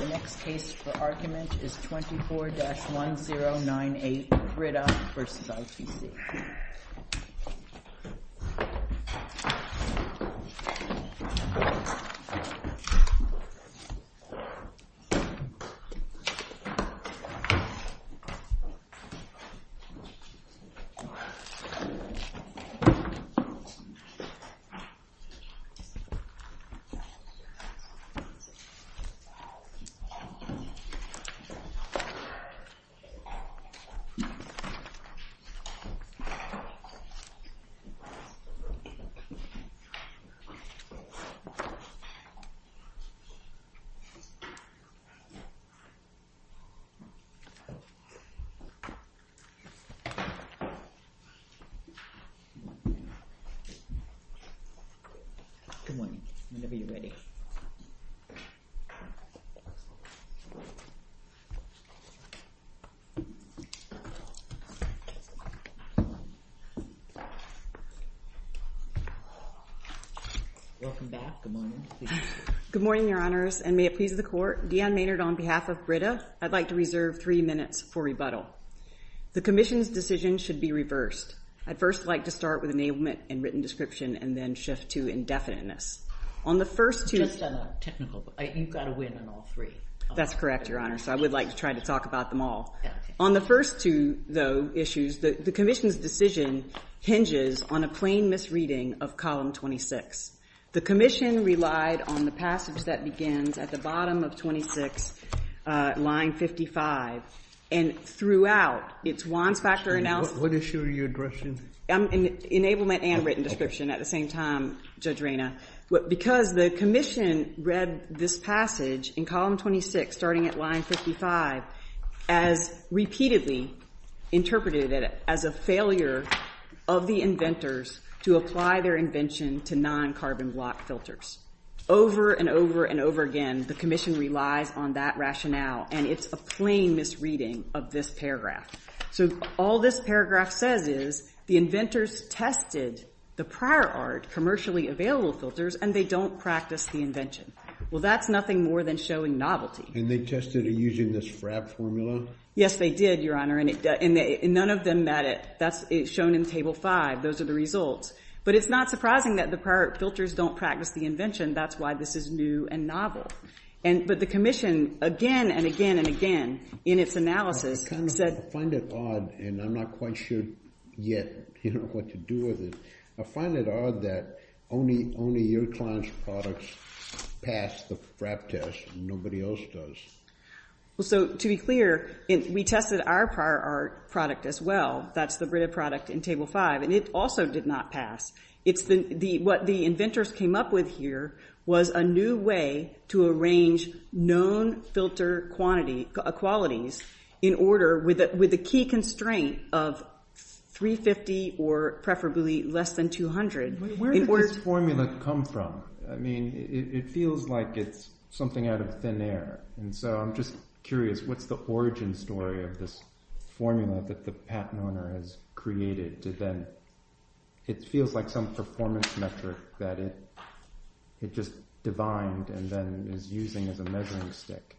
The next case for argument is 24-1098, Brita v. ITC. The next case for argument is 24-1099, Brita v. ITC. Good morning, Your Honors, and may it please the Court, Deanne Maynard on behalf of Brita, I'd like to reserve three minutes for rebuttal. The Commission's decision should be reversed. I'd first like to start with enablement and written description and then shift to indefiniteness. On the first two— Just on a technical—you've got to win on all three. That's correct, Your Honor, so I would like to try to talk about them all. On the first two, though, issues, the Commission's decision hinges on a plain misreading of Column 26. The Commission relied on the passage that begins at the bottom of 26, line 55. And throughout its Wands Factor analysis— What issue are you addressing? Enablement and written description. At the same time, Judge Reyna, because the Commission read this passage in Column 26, starting at line 55, as repeatedly interpreted as a failure of the inventors to apply their invention to non-carbon block filters. Over and over and over again, the Commission relies on that rationale, and it's a plain misreading of this paragraph. So all this paragraph says is the inventors tested the prior art commercially available filters, and they don't practice the invention. Well, that's nothing more than showing novelty. And they tested it using this FRAB formula? Yes, they did, Your Honor, and none of them met it. That's shown in Table 5. Those are the results. But it's not surprising that the prior filters don't practice the invention. That's why this is new and novel. But the Commission, again and again and again, in its analysis, said— I find it odd, and I'm not quite sure yet what to do with it. I find it odd that only your client's products pass the FRAB test, and nobody else does. Well, so to be clear, we tested our prior art product as well. That's the Breda product in Table 5, and it also did not pass. What the inventors came up with here was a new way to arrange known filter qualities in order, with a key constraint of 350 or preferably less than 200— Wait, where did this formula come from? I mean, it feels like it's something out of thin air. And so I'm just curious, what's the origin story of this formula that the patent owner has created to then—it feels like some performance metric that it just divined and then is using as a measuring stick.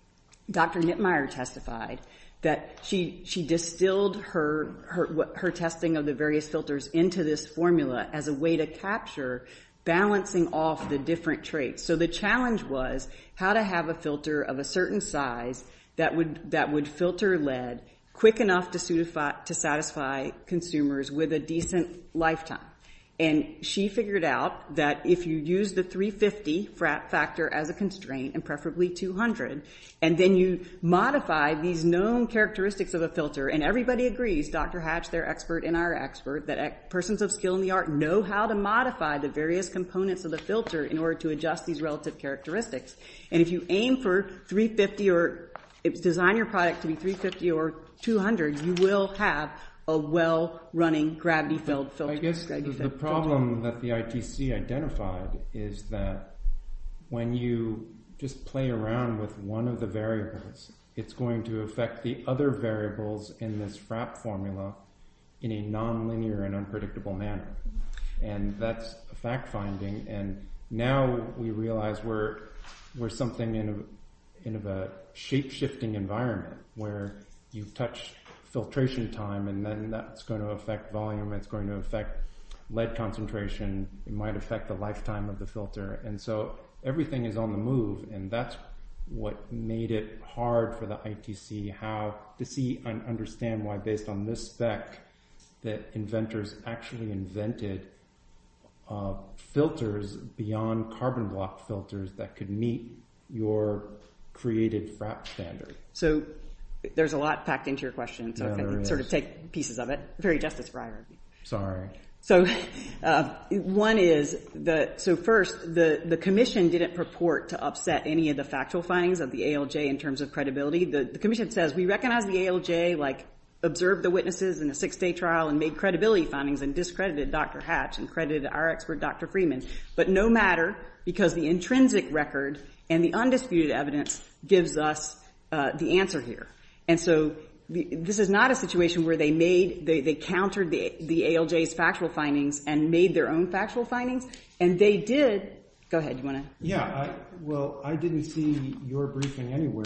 Dr. Knitmeyer testified that she distilled her testing of the various filters into this formula as a way to capture balancing off the different traits. So the challenge was how to have a filter of a certain size that would filter lead quick enough to satisfy consumers with a decent lifetime. And she figured out that if you use the 350 factor as a constraint, and preferably 200, and then you modify these known characteristics of a filter, and everybody agrees, Dr. Hatch, their expert and our expert, that persons of skill and the art know how to modify the various components of the filter in order to adjust these relative characteristics. And if you aim for 350 or—design your product to be 350 or 200, you will have a well-running gravity-filled filter. The problem that the ITC identified is that when you just play around with one of the variables, it's going to affect the other variables in this FRAP formula in a non-linear and unpredictable manner. And that's a fact-finding. And now we realize we're something in a shape-shifting environment where you've touched filtration time, and then that's going to affect volume, it's going to affect lead concentration, it might affect the lifetime of the filter. And so everything is on the move, and that's what made it hard for the ITC to see and understand why, based on this spec, that inventors actually invented filters beyond carbon block filters that could meet your created FRAP standard. So there's a lot packed into your question, so if I can sort of take pieces of it. Very justice for IRB. So one is that—so first, the Commission didn't purport to upset any of the factual findings of the ALJ in terms of credibility. The Commission says, we recognize the ALJ, like, observed the witnesses in a six-day trial and made credibility findings and discredited Dr. Hatch and credited our expert, Dr. Freeman. But no matter, because the intrinsic record and the undisputed evidence gives us the answer here. And so this is not a situation where they countered the ALJ's factual findings and made their own factual findings, and they did—go ahead, you want to— Yeah, well, I didn't see your briefing anywhere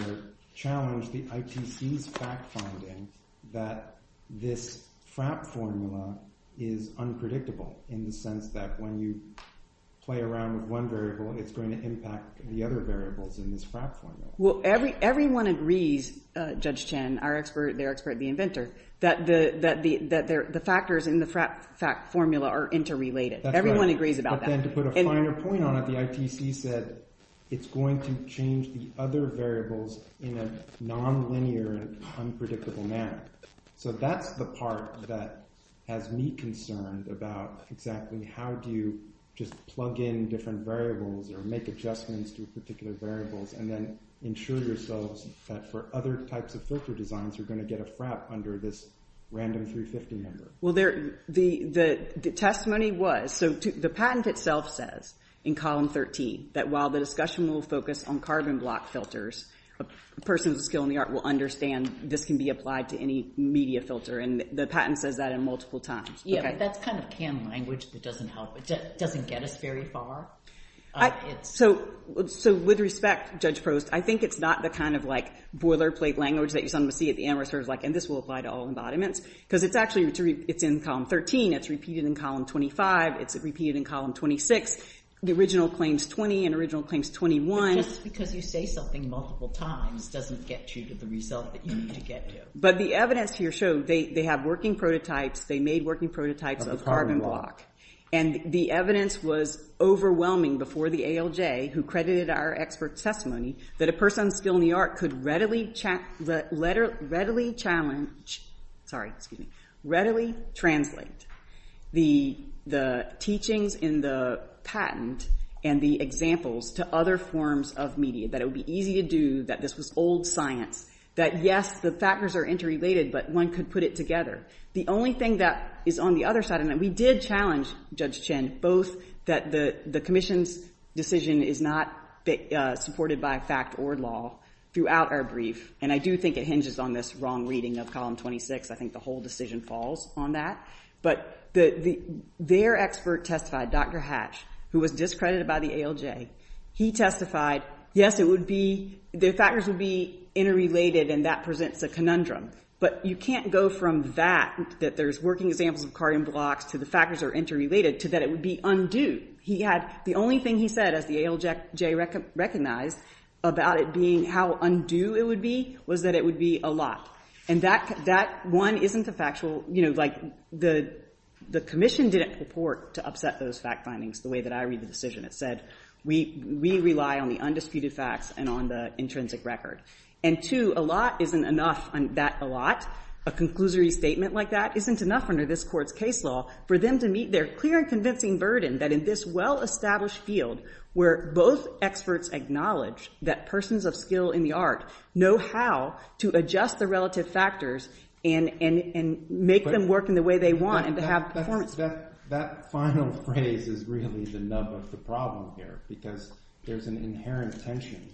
challenge the ITC's fact findings that this FRAP formula is unpredictable, in the sense that when you play around with one in this FRAP formula. Well, everyone agrees, Judge Chen, our expert, their expert, the inventor, that the factors in the FRAP formula are interrelated. That's right. Everyone agrees about that. But then to put a finer point on it, the ITC said it's going to change the other variables in a nonlinear and unpredictable manner. So that's the part that has me concerned about exactly how do you just plug in different variables or make adjustments to particular variables and then ensure yourselves that for other types of filter designs, you're going to get a FRAP under this random 350 number. Well, the testimony was—so the patent itself says in column 13 that while the discussion will focus on carbon block filters, a person with a skill in the art will understand this can be applied to any media filter, and the patent says that multiple times. Yeah, but that's kind of canned language that doesn't help. It doesn't get us very far. So with respect, Judge Prost, I think it's not the kind of like boilerplate language that you're starting to see at the end where it's sort of like, and this will apply to all embodiments, because it's actually—it's in column 13. It's repeated in column 25. It's repeated in column 26. The original claims 20 and original claims 21. But just because you say something multiple times doesn't get you to the result that you need to get to. But the evidence here showed they have working prototypes. They made working prototypes of carbon block, and the evidence was overwhelming before the ALJ, who credited our expert testimony, that a person with a skill in the art could readily challenge—sorry, excuse me—readily translate the teachings in the patent and the examples to other forms of media, that it would be easy to do, that this was old science, that yes, the factors are interrelated, but one could put it together. The only thing that is on the other side, and we did challenge Judge Chin, both that the Commission's decision is not supported by fact or law throughout our brief, and I do think it hinges on this wrong reading of column 26. I think the whole decision falls on that. But their expert testified, Dr. Hatch, who was discredited by the ALJ, he testified, yes, it would be—the factors would be interrelated, and that presents a conundrum. But you can't go from that, that there's working examples of carbon blocks, to the factors are interrelated, to that it would be undue. He had—the only thing he said, as the ALJ recognized, about it being how undue it would be was that it would be a lot. And that one isn't a factual—you know, like, the Commission didn't purport to upset those fact findings the way that I read the decision. It said, we rely on the undisputed facts and on the intrinsic record. And two, a lot isn't enough, that a lot, a conclusory statement like that, isn't enough under this Court's case law for them to meet their clear and convincing burden that in this well-established field, where both experts acknowledge that persons of skill in the art know how to adjust the relative factors and make them work in the way they want and to have performance— that final phrase is really the nub of the problem here, because there's an inherent tension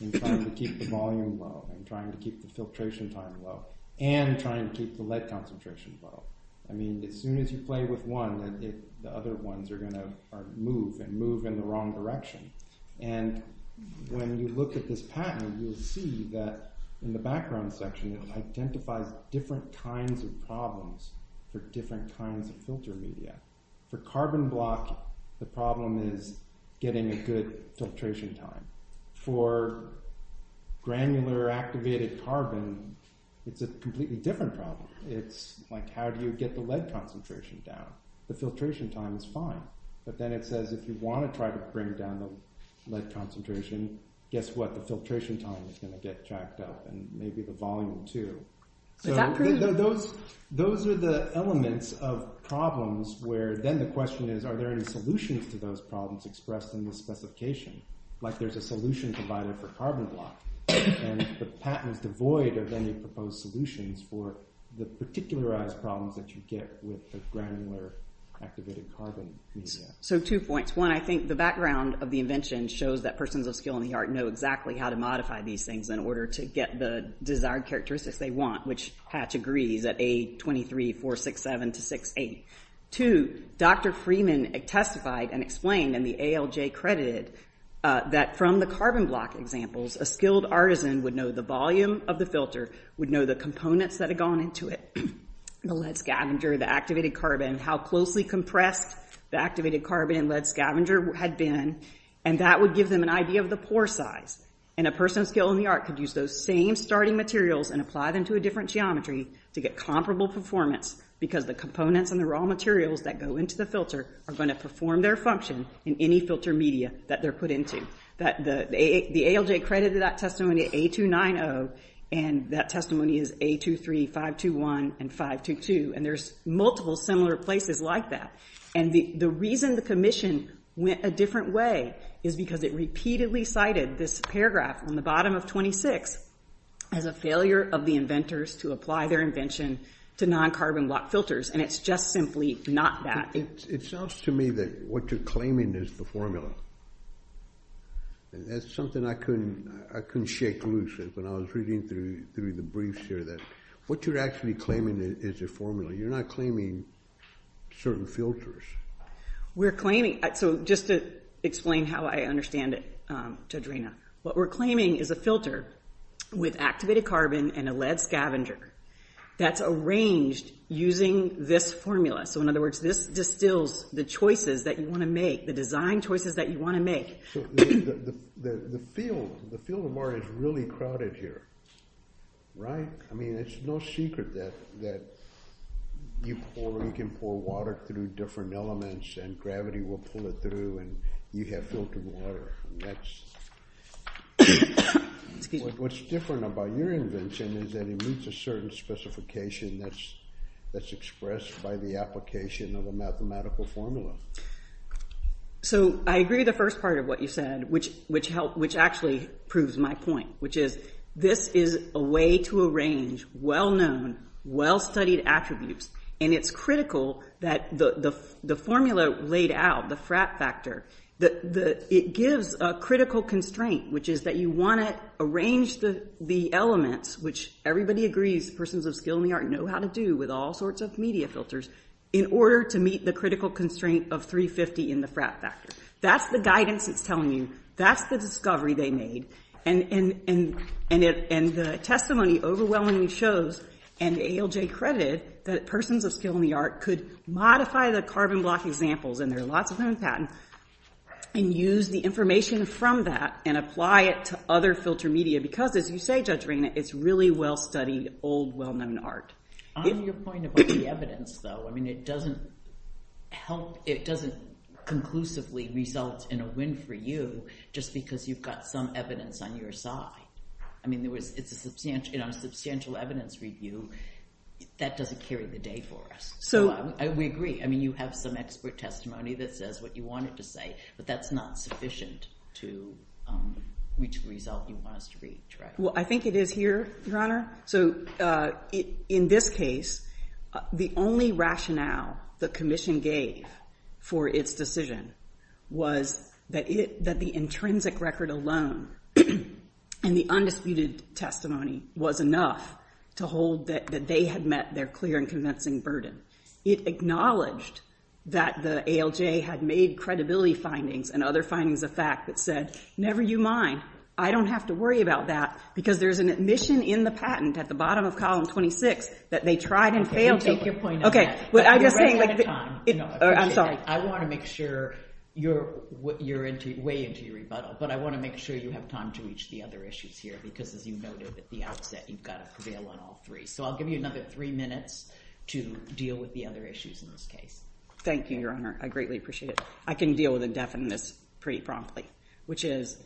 in trying to keep the volume low, and trying to keep the filtration time low, and trying to keep the lead concentration low. I mean, as soon as you play with one, the other ones are going to move and move in the wrong direction. And when you look at this patent, you'll see that in the background section, it identifies different kinds of problems for different kinds of filter media. For carbon block, the problem is getting a good filtration time. For granular activated carbon, it's a completely different problem. It's like, how do you get the lead concentration down? The filtration time is fine, but then it says, if you want to try to bring down the lead concentration, guess what, filtration time is going to get jacked up, and maybe the volume too. Those are the elements of problems, where then the question is, are there any solutions to those problems expressed in this specification? Like, there's a solution provided for carbon block, and the patent is devoid of any proposed solutions for the particularized problems that you get with the granular activated carbon media. So, two points. One, I think the background of the invention shows that persons of skill in how to modify these things in order to get the desired characteristics they want, which Hatch agrees at A23467-68. Two, Dr. Freeman testified and explained, and the ALJ credited, that from the carbon block examples, a skilled artisan would know the volume of the filter, would know the components that had gone into it, the lead scavenger, the activated carbon, how closely compressed the activated carbon and lead scavenger had been, and that would give them an idea of the pore size. A person of skill in the art could use those same starting materials and apply them to a different geometry to get comparable performance, because the components and the raw materials that go into the filter are going to perform their function in any filter media that they're put into. The ALJ credited that testimony at A290, and that testimony is A23521 and 522, and there's multiple similar places like that. The reason the commission went a different way is because it repeatedly cited this paragraph on the bottom of 26 as a failure of the inventors to apply their invention to non-carbon block filters, and it's just simply not that. It sounds to me that what you're claiming is the formula, and that's something I couldn't shake loose when I was reading through through the briefs here, that what you're actually claiming is a formula. You're not claiming certain filters. We're claiming, so just to explain how I understand it to Adrena, what we're claiming is a filter with activated carbon and a lead scavenger that's arranged using this formula. So in other words, this distills the choices that you want to make, the design choices that you want to make. So the field of art is really crowded here, right? I mean, it's no secret that you can pour water through different elements, and gravity will pull it through, and you have filtered water. What's different about your invention is that it meets a certain specification that's expressed by the application of a mathematical formula. So I agree with the first part of what you said, which actually proves my point, which is this is a way to arrange well-known, well-studied attributes, and it's critical that the formula laid out, the frat factor, that it gives a critical constraint, which is that you want to arrange the elements, which everybody agrees, persons of skill in the art know how to do with all sorts of media filters, in order to meet the critical constraint of 350 in the frat factor. That's the guidance it's telling you. That's the discovery they made, and the testimony overwhelmingly shows, and ALJ credited, that persons of skill in the art could modify the carbon block examples, and there are lots of them in patent, and use the information from that, and apply it to other filter media, because as you say, Judge Reina, it's really well-studied, old, well-known art. On your point about the evidence, though, I mean, it doesn't help, it doesn't conclusively result in a win for you, just because you've got some evidence on your side. I mean, there was, it's a substantial, you know, substantial evidence review, that doesn't carry the day for us. So we agree, I mean, you have some expert testimony that says what you wanted to say, but that's not sufficient to reach the result you want us to reach, right? I think it is here, Your Honor. So in this case, the only rationale the commission gave for its decision was that the intrinsic record alone, and the undisputed testimony was enough to hold that they had met their clear and convincing burden. It acknowledged that the ALJ had made credibility findings, and other findings of fact, that said, never you mind, I don't have to worry about that, because there's an admission in the patent, at the bottom of column 26, that they tried and failed to- Okay, you can take your point on that. Okay, but I'm just saying- But you're running out of time. No, I appreciate that. I'm sorry. I want to make sure you're way into your rebuttal, but I want to make sure you have time to reach the other issues here, because as you noted at the outset, you've got to prevail on all three. So I'll give you another three minutes to deal with the other issues in this case. Thank you, Your Honor. I greatly appreciate it. I can deal with indefiniteness pretty promptly, which is,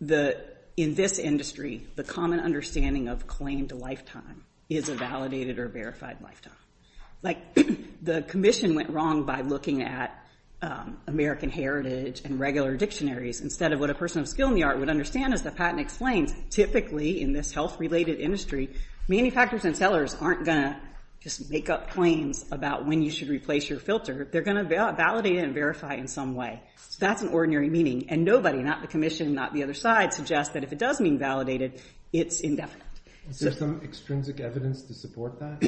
in this industry, the common understanding of claimed lifetime is a validated or verified lifetime. The commission went wrong by looking at American heritage and regular dictionaries, instead of what a person of skill in the art would understand, as the patent explains. Typically, in this health-related industry, manufacturers and sellers aren't going to just make up claims about when you should replace your filter. They're going to validate it and verify it in some way. So that's an ordinary meaning. And nobody, not the commission, not the other side, suggests that if it does mean validated, it's indefinite. Is there some extrinsic evidence to support that?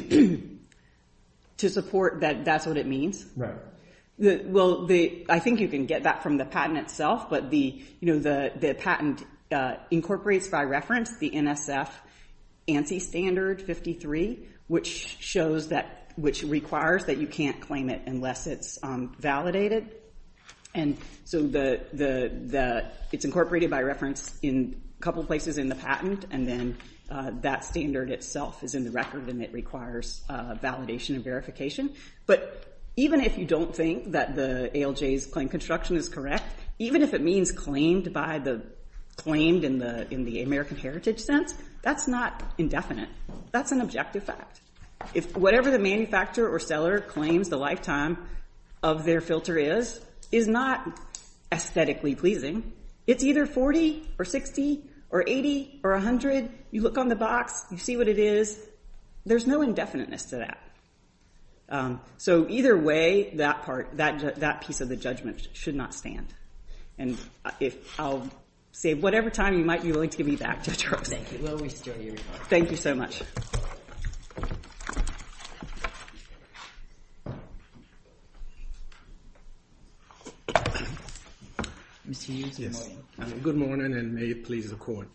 To support that that's what it means? Right. Well, I think you can get that from the patent itself, but the patent incorporates, by reference, the NSF ANSI standard 53, which requires that you can't claim it unless it's validated. And so it's incorporated, by reference, in a couple of places in the patent. And then that standard itself is in the record, and it requires validation and verification. But even if you don't think that the ALJ's claim construction is correct, even if it means claimed in the American heritage sense, that's not indefinite. That's an objective fact. Whatever the manufacturer or seller claims the lifetime of their filter is is not aesthetically pleasing. It's either 40 or 60 or 80 or 100. You look on the box. You see what it is. There's no indefiniteness to that. So either way, that piece of the judgment should not stand. And I'll save whatever time you might be willing to give me back, Judge Rose. Thank you. Well, we still hear you. Thank you so much. Mr. Hughes? Yes. Good morning, and may it please the Court.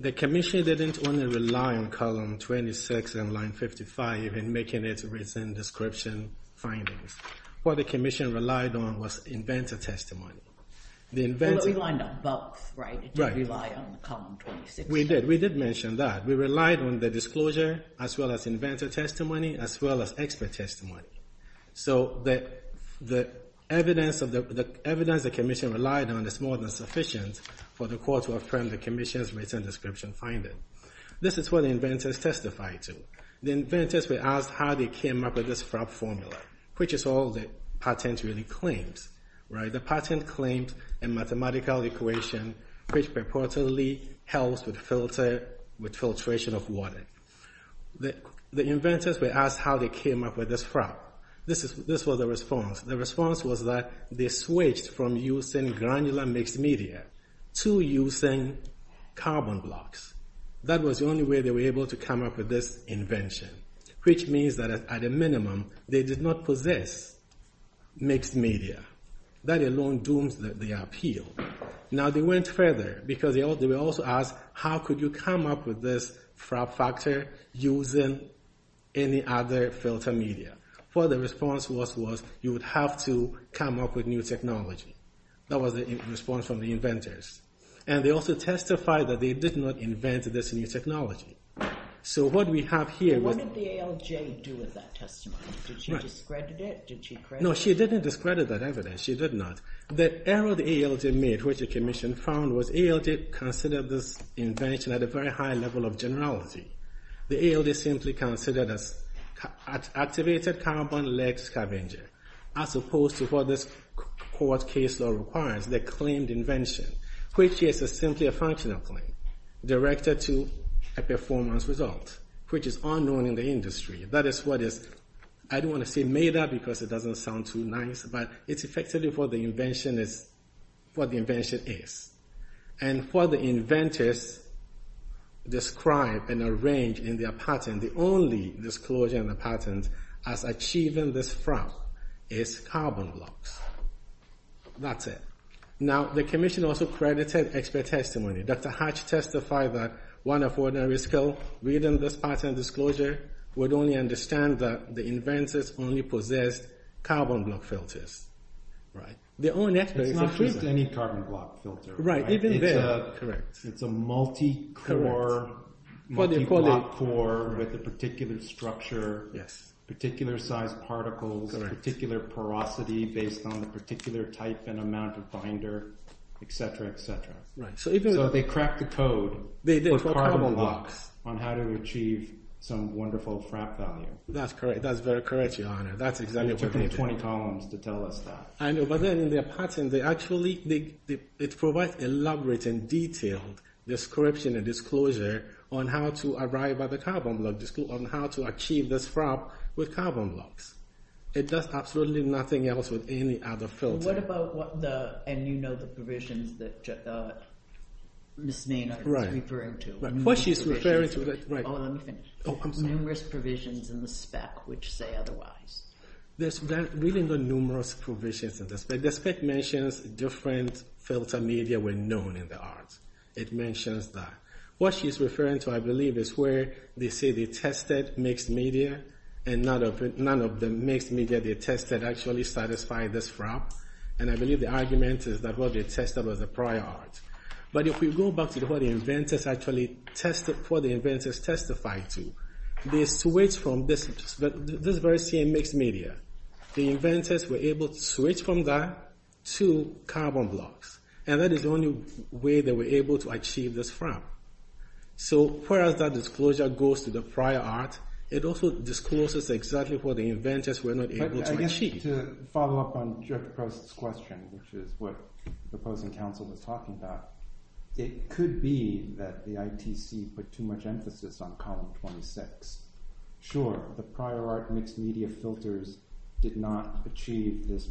The Commission didn't only rely on column 26 and line 55 in making its written description findings. What the Commission relied on was inventor testimony. Well, but we lined up both, right? Right. Did you rely on the column 26? We did. We did mention that. We relied on the disclosure as well as inventor testimony as well as expert testimony. So the evidence the Commission relied on is more than sufficient for the Court to affirm the Commission's written description finding. This is what the inventors testified to. The inventors were asked how they came up with this FRAP formula, which is all the patent really claims, right? The patent claims a mathematical equation which purportedly helps with filtration of water. The inventors were asked how they came up with this FRAP. This was their response. Their response was that they switched from using granular mixed media to using carbon blocks. That was the only way they were able to come up with this invention, which means at a minimum they did not possess mixed media. That alone dooms the appeal. Now, they went further because they were also asked how could you come up with this FRAP factor using any other filter media. What the response was was you would have to come up with new technology. That was the response from the inventors. And they also testified that they did not invent this new technology. So what we have here was- Did she discredit it? No, she didn't discredit that evidence. She did not. The error the ALJ made, which the commission found, was ALJ considered this invention at a very high level of generality. The ALJ simply considered it as activated carbon-led scavenger as opposed to what this court case law requires, the claimed invention, which is simply a functional claim directed to a performance result, which is unknown in the industry. That is what is- I don't want to say made up because it doesn't sound too nice, but it's effectively what the invention is. And what the inventors describe and arrange in their patent, the only disclosure in the patent as achieving this FRAP is carbon blocks. That's it. Now, the commission also credited expert testimony. Dr. Hatch testified that one of ordinary skill reading this patent disclosure would only understand that the inventors only possessed carbon block filters. Right. Their own experts- It's not just any carbon block filter. Right. Even there- Correct. It's a multi-core, multi-block core with a particular structure, particular size particles, particular porosity based on the particular type and amount of binder, et cetera, et cetera. Right. That's correct. That's very correct, Your Honor. That's exactly what they did. It took me 20 columns to tell us that. I know. But then in their patent, they actually- it provides elaborating detailed description and disclosure on how to arrive at the carbon block, on how to achieve this FRAP with carbon blocks. It does absolutely nothing else with any other filter. What about what the- and you know the provisions that Ms. Maynard is referring to. What she's referring to- Oh, let me finish. Oh, I'm sorry. There are numerous provisions in the spec which say otherwise. There's really no numerous provisions in the spec. The spec mentions different filter media were known in the art. It mentions that. What she's referring to, I believe, is where they say they tested mixed media and none of the mixed media they tested actually satisfied this FRAP. And I believe the argument is that what they tested was a prior art. But if we go back to what the inventors actually tested- what the inventors testified to, they switched from this very same mixed media. The inventors were able to switch from that to carbon blocks. And that is the only way they were able to achieve this FRAP. So whereas that disclosure goes to the prior art, it also discloses exactly what the inventors were not able to achieve. I guess to follow up on Dr. Post's question, which is what the opposing council was talking about, it could be that the ITC put too much emphasis on column 26. Sure, the prior art mixed media filters did not achieve this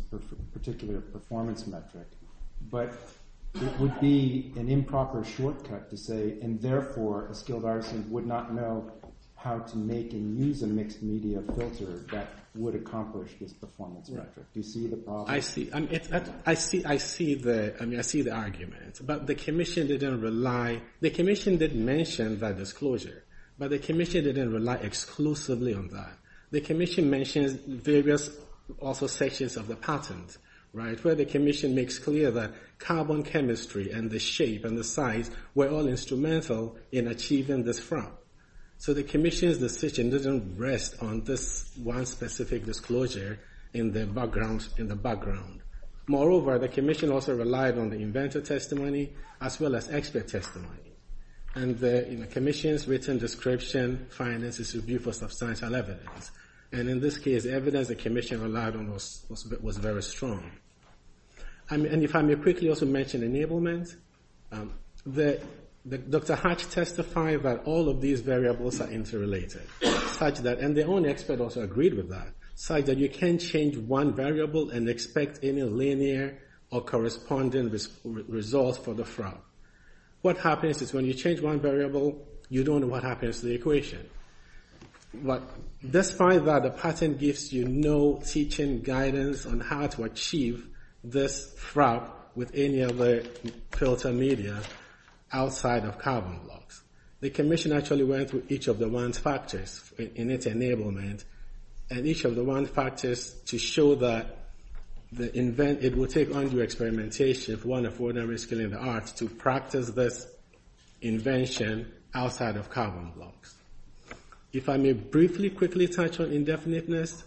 particular performance metric. But it would be an improper shortcut to say, and therefore a skilled artisan would not know how to make and use a mixed media filter that would accomplish this performance metric. Do you see the problem? I see the argument. But the commission didn't mention that disclosure. But the commission didn't rely exclusively on that. The commission mentions various also sections of the patent, where the commission makes clear that carbon chemistry and the shape and the size were all instrumental in achieving this FRAP. So the commission's decision didn't rest on this one specific disclosure in the background. Moreover, the commission also relied on the inventor testimony as well as expert testimony. And the commission's written description finances review for substantial evidence. And in this case, evidence the commission relied on was very strong. And if I may quickly also mention enablement, Dr. Hatch testified that all of these variables are interrelated, such that, and the only expert also agreed with that, such that you can change one variable and expect any linear or corresponding results for the FRAP. What happens is when you change one variable, you don't know what happens to the equation. But despite that, the patent gives you no teaching guidance on how to achieve this FRAP with any other filter media outside of carbon blocks. The commission actually went through each of the ones factors in its enablement. And each of the one factors to show that the invent, it will take undue experimentation if one of ordinary skill in the arts to practice this invention outside of carbon blocks. If I may briefly quickly touch on indefiniteness,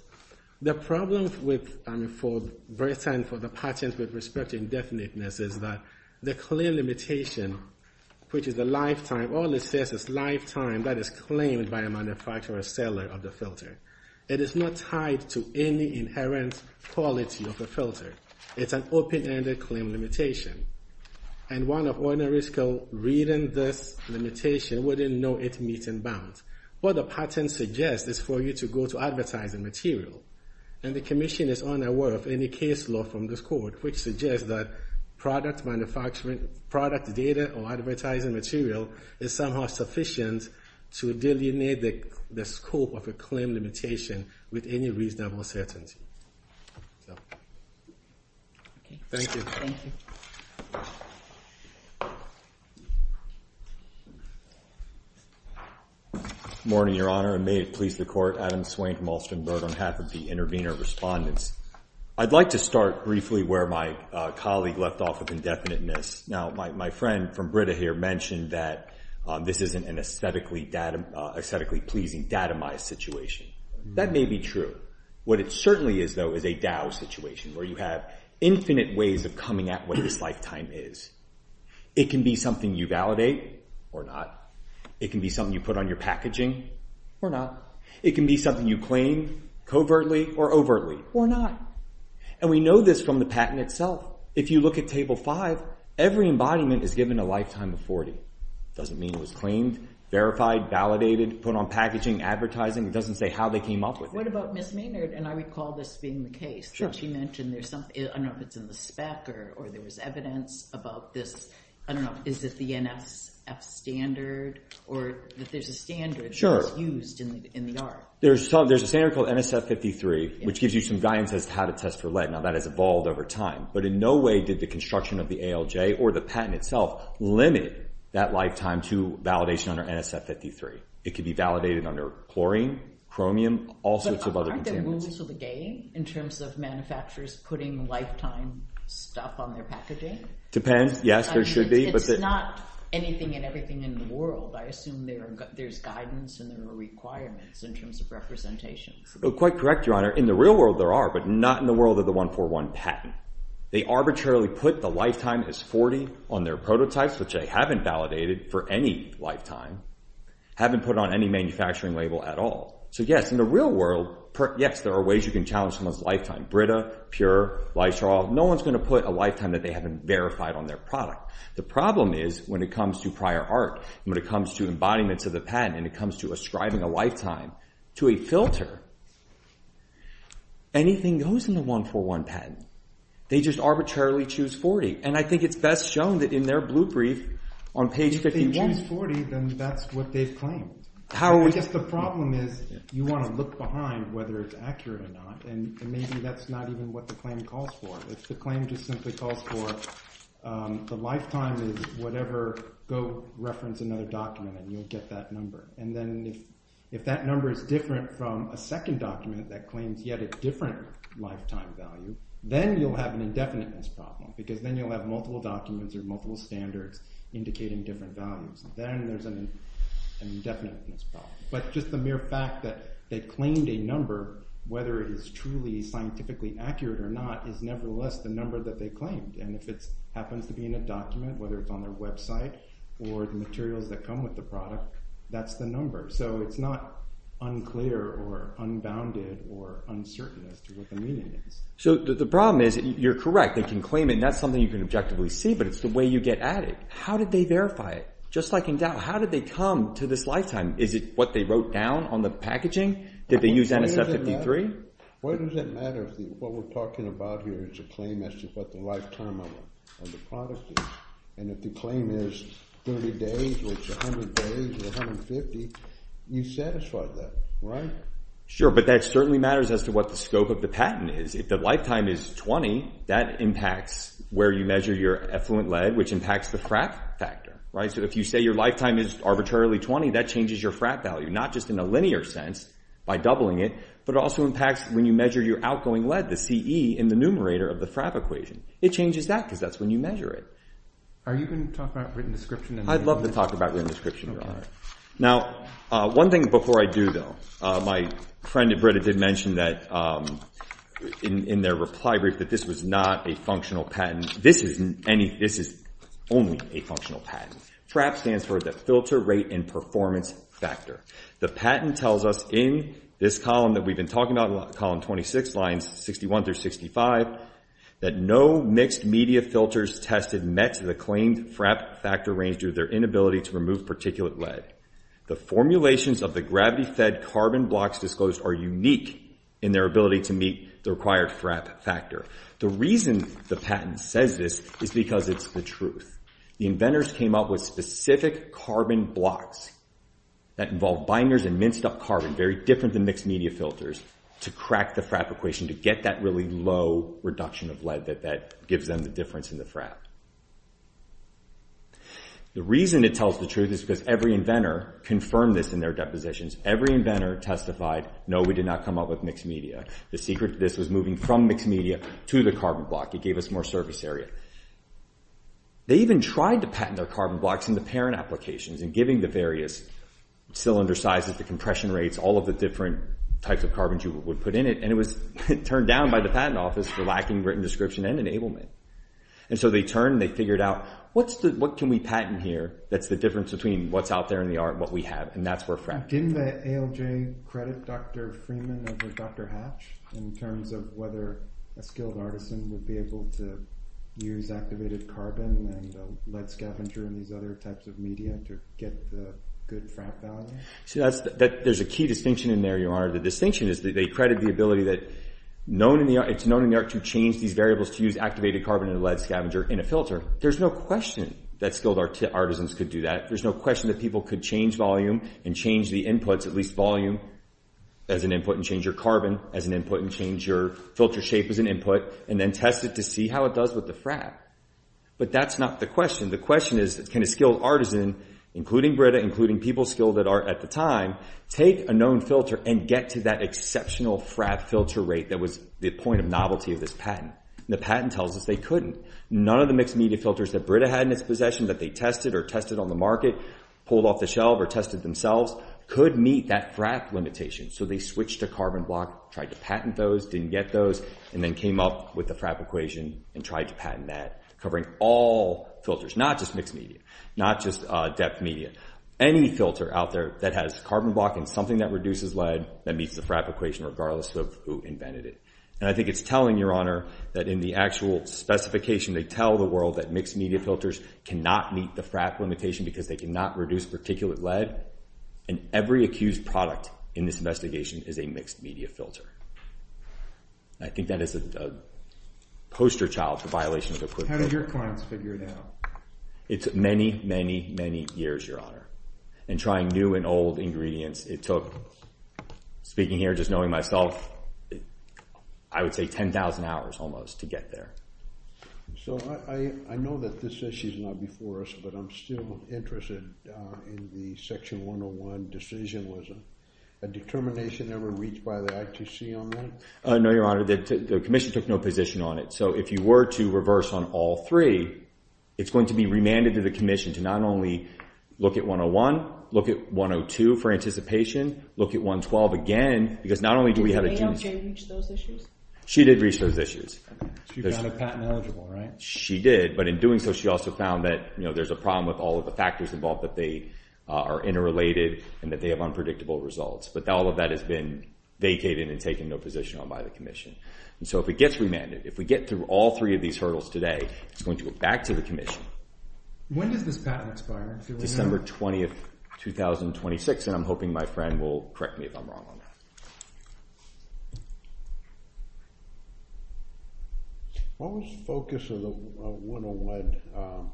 the problem with, I mean, for Britain for the patent with respect to indefiniteness is that the claim limitation, which is the lifetime, all it says is lifetime that is claimed by a manufacturer or seller of the filter. It is not tied to any inherent quality of a filter. It's an open-ended claim limitation. And one of ordinary skill reading this limitation wouldn't know it meet in bounds. What the patent suggests is for you to go to advertising material. And the commission is unaware of any case law from this court, which suggests that product manufacturing, product data or advertising material is somehow sufficient to delineate the scope of a claim limitation with any reasonable certainty. Thank you. Morning, Your Honor. And may it please the court. Adam Swain from Alston Boat on behalf of the intervener respondents. I'd like to start briefly where my colleague left off with indefiniteness. Now, my friend from Brita here mentioned that this isn't an aesthetically pleasing datamized situation. That may be true. What it certainly is, though, is a DAO situation where you have infinite ways of coming at what this lifetime is. It can be something you validate or not. It can be something you put on your packaging or not. It can be something you claim covertly or overtly or not. And we know this from the patent itself. If you look at Table 5, every embodiment is given a lifetime of 40. It doesn't mean it was claimed, verified, validated, put on packaging, advertising. It doesn't say how they came up with it. What about Ms. Maynard? And I recall this being the case that she mentioned. There's something, I don't know if it's in the spec or there was evidence about this. I don't know. Is it the NSF standard or that there's a standard that's used in the art? There's a standard called NSF 53, which gives you some guidance as to how to test for lead. Now, that has evolved over time. But in no way did the construction of the ALJ or the patent itself limit that lifetime to validation under NSF 53. It could be validated under chlorine, chromium, all sorts of other contaminants. But aren't there rules of the game in terms of manufacturers putting lifetime stuff on their packaging? Depends. Yes, there should be. I mean, it's not anything and everything in the world. I assume there's guidance and there are requirements in terms of representations. Quite correct, Your Honor. In the real world, there are. But not in the world of the 141 patent. They arbitrarily put the lifetime as 40 on their prototypes, which they haven't validated for any lifetime, haven't put on any manufacturing label at all. So yes, in the real world, yes, there are ways you can challenge someone's lifetime. Brita, Pure, Lysol. No one's going to put a lifetime that they haven't verified on their product. The problem is when it comes to prior art and when it comes to embodiments of the patent and it comes to ascribing a lifetime to a filter, anything goes in the 141 patent. They just arbitrarily choose 40. And I think it's best shown that in their blueprint on page 51. If they want 40, then that's what they've claimed. I guess the problem is you want to look behind whether it's accurate or not. And maybe that's not even what the claim calls for. If the claim just simply calls for the lifetime is whatever, go reference another document and you'll get that number. And then if that number is different from a second document that claims yet a different lifetime value, then you'll have an indefiniteness problem because then you'll have multiple documents or multiple standards indicating different values. Then there's an indefiniteness problem. But just the mere fact that they claimed a number, whether it is truly scientifically accurate or not, is nevertheless the number that they claimed. And if it happens to be in a document, whether it's on their website or the materials that come with the product, that's the number. So, it's not unclear or unbounded or uncertain as to what the meaning is. Robert Chisholm So, the problem is you're correct. They can claim it and that's something you can objectively see, but it's the way you get at it. How did they verify it? Just like in Dow, how did they come to this lifetime? Is it what they wrote down on the packaging? Did they use NSF-53? Why does it matter if what we're talking about here is a claim as to what the lifetime of the product is? And if the claim is 30 days, or it's 100 days, or 150, you satisfy that, right? Brian Sure. But that certainly matters as to what the scope of the patent is. If the lifetime is 20, that impacts where you measure your effluent lead, which impacts the frat factor, right? So, if you say your lifetime is arbitrarily 20, that changes your frat value, not just in a linear sense by doubling it, but it also impacts when you measure your outgoing lead, the CE, in the numerator of the frat equation. It changes that because that's when you measure it. Robert Chisholm Are you going to talk about written description? Brian I'd love to talk about written description, Your Honor. Now, one thing before I do, though, my friend at Brita did mention that in their reply brief that this was not a functional patent. This is only a functional patent. FRAP stands for the Filter Rate and Performance Factor. The patent tells us in this column that we've been talking about, column 26, lines 61 through 65, that no mixed media filters tested met the claimed frat factor range due to their inability to remove particulate lead. The formulations of the gravity-fed carbon blocks disclosed are unique in their ability to meet the required frat factor. The reason the patent says this is because it's the truth. The inventors came up with specific carbon blocks that involved binders and minced up carbon, very different than mixed media filters, to crack the frat equation to get that really low reduction of lead that gives them the difference in the frat. The reason it tells the truth is because every inventor confirmed this in their depositions. Every inventor testified, no, we did not come up with mixed media. The secret to this was moving from mixed media to the carbon block. It gave us more surface area. They even tried to patent their carbon blocks in the parent applications and giving the various cylinder sizes, the compression rates, all of the different types of carbons you would put in it. And it was turned down by the patent office for lacking written description and enablement. And so they turned and they figured out, what can we patent here that's the difference between what's out there in the art and what we have? And that's where frat came from. Didn't the ALJ credit Dr. Freeman over Dr. Hatch in terms of whether a skilled artisan would be able to use activated carbon and lead scavenger and these other types of media to get the good frat value? There's a key distinction in there, your honor. The distinction is that they credit the ability that it's known in the art to change these variables to use activated carbon and lead scavenger in a filter. There's no question that skilled artisans could do that. There's no question that people could change volume and change the inputs, at least volume as an input and change your carbon as an input and change your filter shape as an input and then test it to see how it does with the frat. But that's not the question. The question is, can a skilled artisan, including Brita, including people skilled at art at the time, take a known filter and get to that exceptional frat filter rate that was the point of novelty of this patent? The patent tells us they couldn't. None of the mixed media filters that Brita had in its possession that they tested or tested on the market, pulled off the shelf or tested themselves could meet that frat limitation. So they switched to carbon block, tried to patent those, didn't get those, and then came up with the frat equation and tried to patent that, covering all filters, not just mixed media, not just depth media. Any filter out there that has carbon block and something that reduces lead that meets the frat equation, regardless of who invented it. And I think it's telling, Your Honor, that in the actual specification, they tell the world that mixed media filters cannot meet the frat limitation because they cannot reduce particulate lead. And every accused product in this investigation is a mixed media filter. And I think that is a poster child for violations of quid pro quo. How did your clients figure it out? It's many, many, many years, Your Honor. And trying new and old ingredients, it took, speaking here just knowing myself, I would say 10,000 hours almost to get there. So I know that this issue's not before us, but I'm still interested in the Section 101 decision. Was a determination ever reached by the ITC on that? No, Your Honor. The Commission took no position on it. So if you were to reverse on all three, it's going to be remanded to the Commission to not only look at 101, look at 102 for anticipation, look at 112 again, because not only do we have a chance- Did the NAOJ reach those issues? She did reach those issues. She got a patent eligible, right? She did. But in doing so, she also found that there's a problem with all of the factors involved that they are interrelated and that they have unpredictable results. But all of that has been vacated and taken no position on by the Commission. And so if it gets remanded, if we get through all three of these hurdles today, it's going to go back to the Commission. When does this patent expire, Your Honor? December 20th, 2026. And I'm hoping my friend will correct me if I'm wrong on that. What was the focus of the 101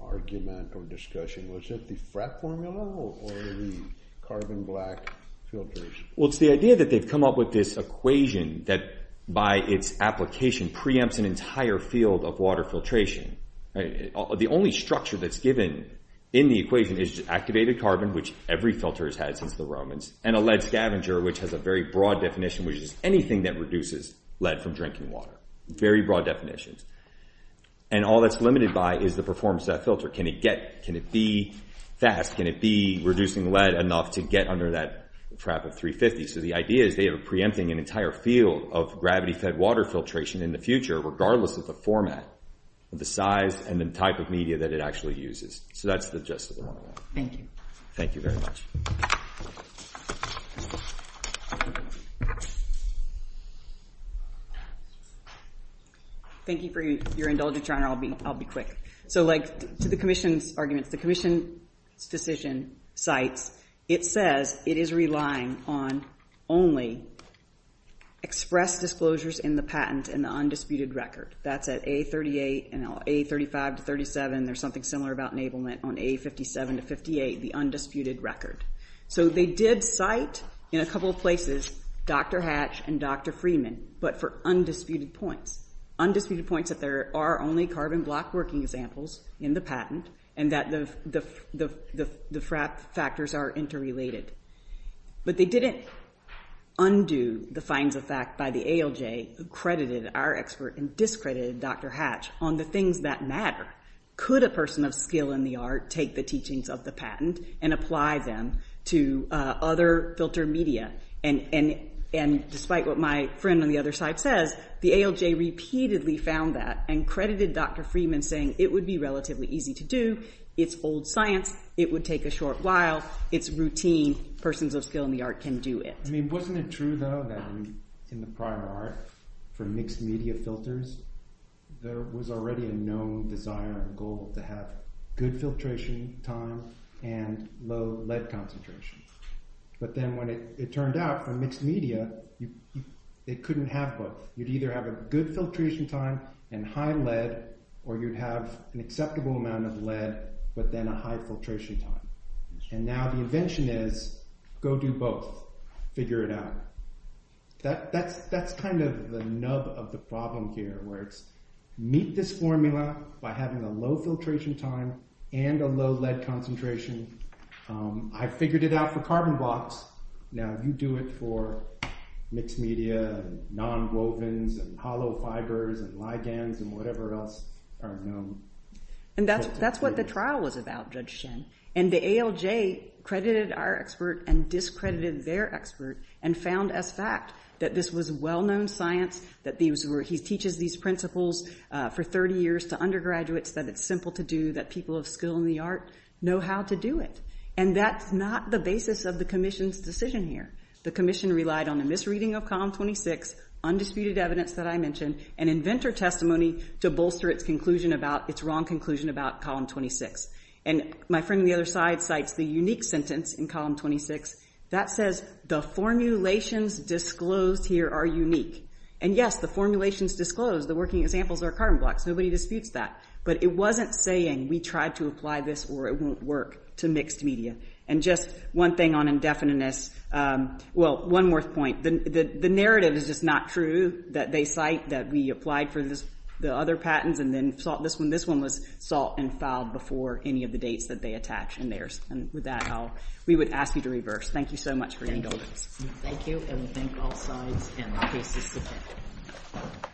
argument or discussion? Was it the frat formula or the carbon black filters? Well, it's the idea that they've come up with this equation that, by its application, preempts an entire field of water filtration. The only structure that's given in the equation is activated carbon, which every filter has since the Romans, and a lead scavenger, which has a very broad definition, which is anything that reduces lead from drinking water. Very broad definitions. And all that's limited by is the performance of that filter. Can it be fast? Can it be reducing lead enough to get under that trap of 350? So the idea is they are preempting an entire field of gravity-fed water filtration in the future, regardless of the format, the size, and the type of media that it actually uses. So that's the gist of the 101. Thank you. Thank you very much. Thank you for your indulgence, Your Honor. I'll be quick. So to the commission's arguments, the commission's decision cites, it says it is relying on only expressed disclosures in the patent and the undisputed record. That's at A38 and A35 to 37. There's something similar about enablement on A57 to 58, the undisputed record. So they did cite, in a couple of places, Dr. Hatch and Dr. Freeman, but for undisputed points. Undisputed points that there are only carbon block working examples in the patent, and that the frappe factors are interrelated. But they didn't undo the finds of fact by the ALJ who credited our expert and discredited Dr. Hatch on the things that matter. Could a person of skill in the art take the teachings of the patent and apply them to other filter media? And despite what my friend on the other side says, the ALJ repeatedly found that and credited Dr. Freeman saying it would be relatively easy to do. It's old science. It would take a short while. It's routine. Persons of skill in the art can do it. I mean, wasn't it true, though, that in the prior art for mixed media filters, there was already a known desire and goal to have good filtration time and low lead concentration. But then when it turned out for mixed media, it couldn't have both. You'd either have a good filtration time and high lead, or you'd have an acceptable amount of lead, but then a high filtration time. And now the invention is, go do both. Figure it out. That's kind of the nub of the problem here, where it's meet this formula by having a low filtration time and a low lead concentration. I figured it out for carbon blocks. Now, you do it for mixed media, nonwovens, and hollow fibers, and ligands, and whatever else are known. And that's what the trial was about, Judge Chen. And the ALJ credited our expert and discredited their expert and found as fact that this was well-known science, that he teaches these principles for 30 years to undergraduates, that it's simple to do, that people of skill in the art know how to do it. And that's not the basis of the commission's decision here. The commission relied on a misreading of column 26, undisputed evidence that I mentioned, and inventor testimony to bolster its wrong conclusion about column 26. And my friend on the other side cites the unique sentence in column 26 that says, the formulations disclosed here are unique. And yes, the formulations disclosed, the working examples are carbon blocks. Nobody disputes that. But it wasn't saying we tried to apply this or it won't work to mixed media. And just one thing on indefiniteness. Well, one more point. The narrative is just not true that they cite that we applied for the other patents and this one was sought and filed before any of the dates that they attach in theirs. And with that, we would ask you to reverse. Thank you so much for your indulgence. Thank you. And we thank all sides and the cases to come.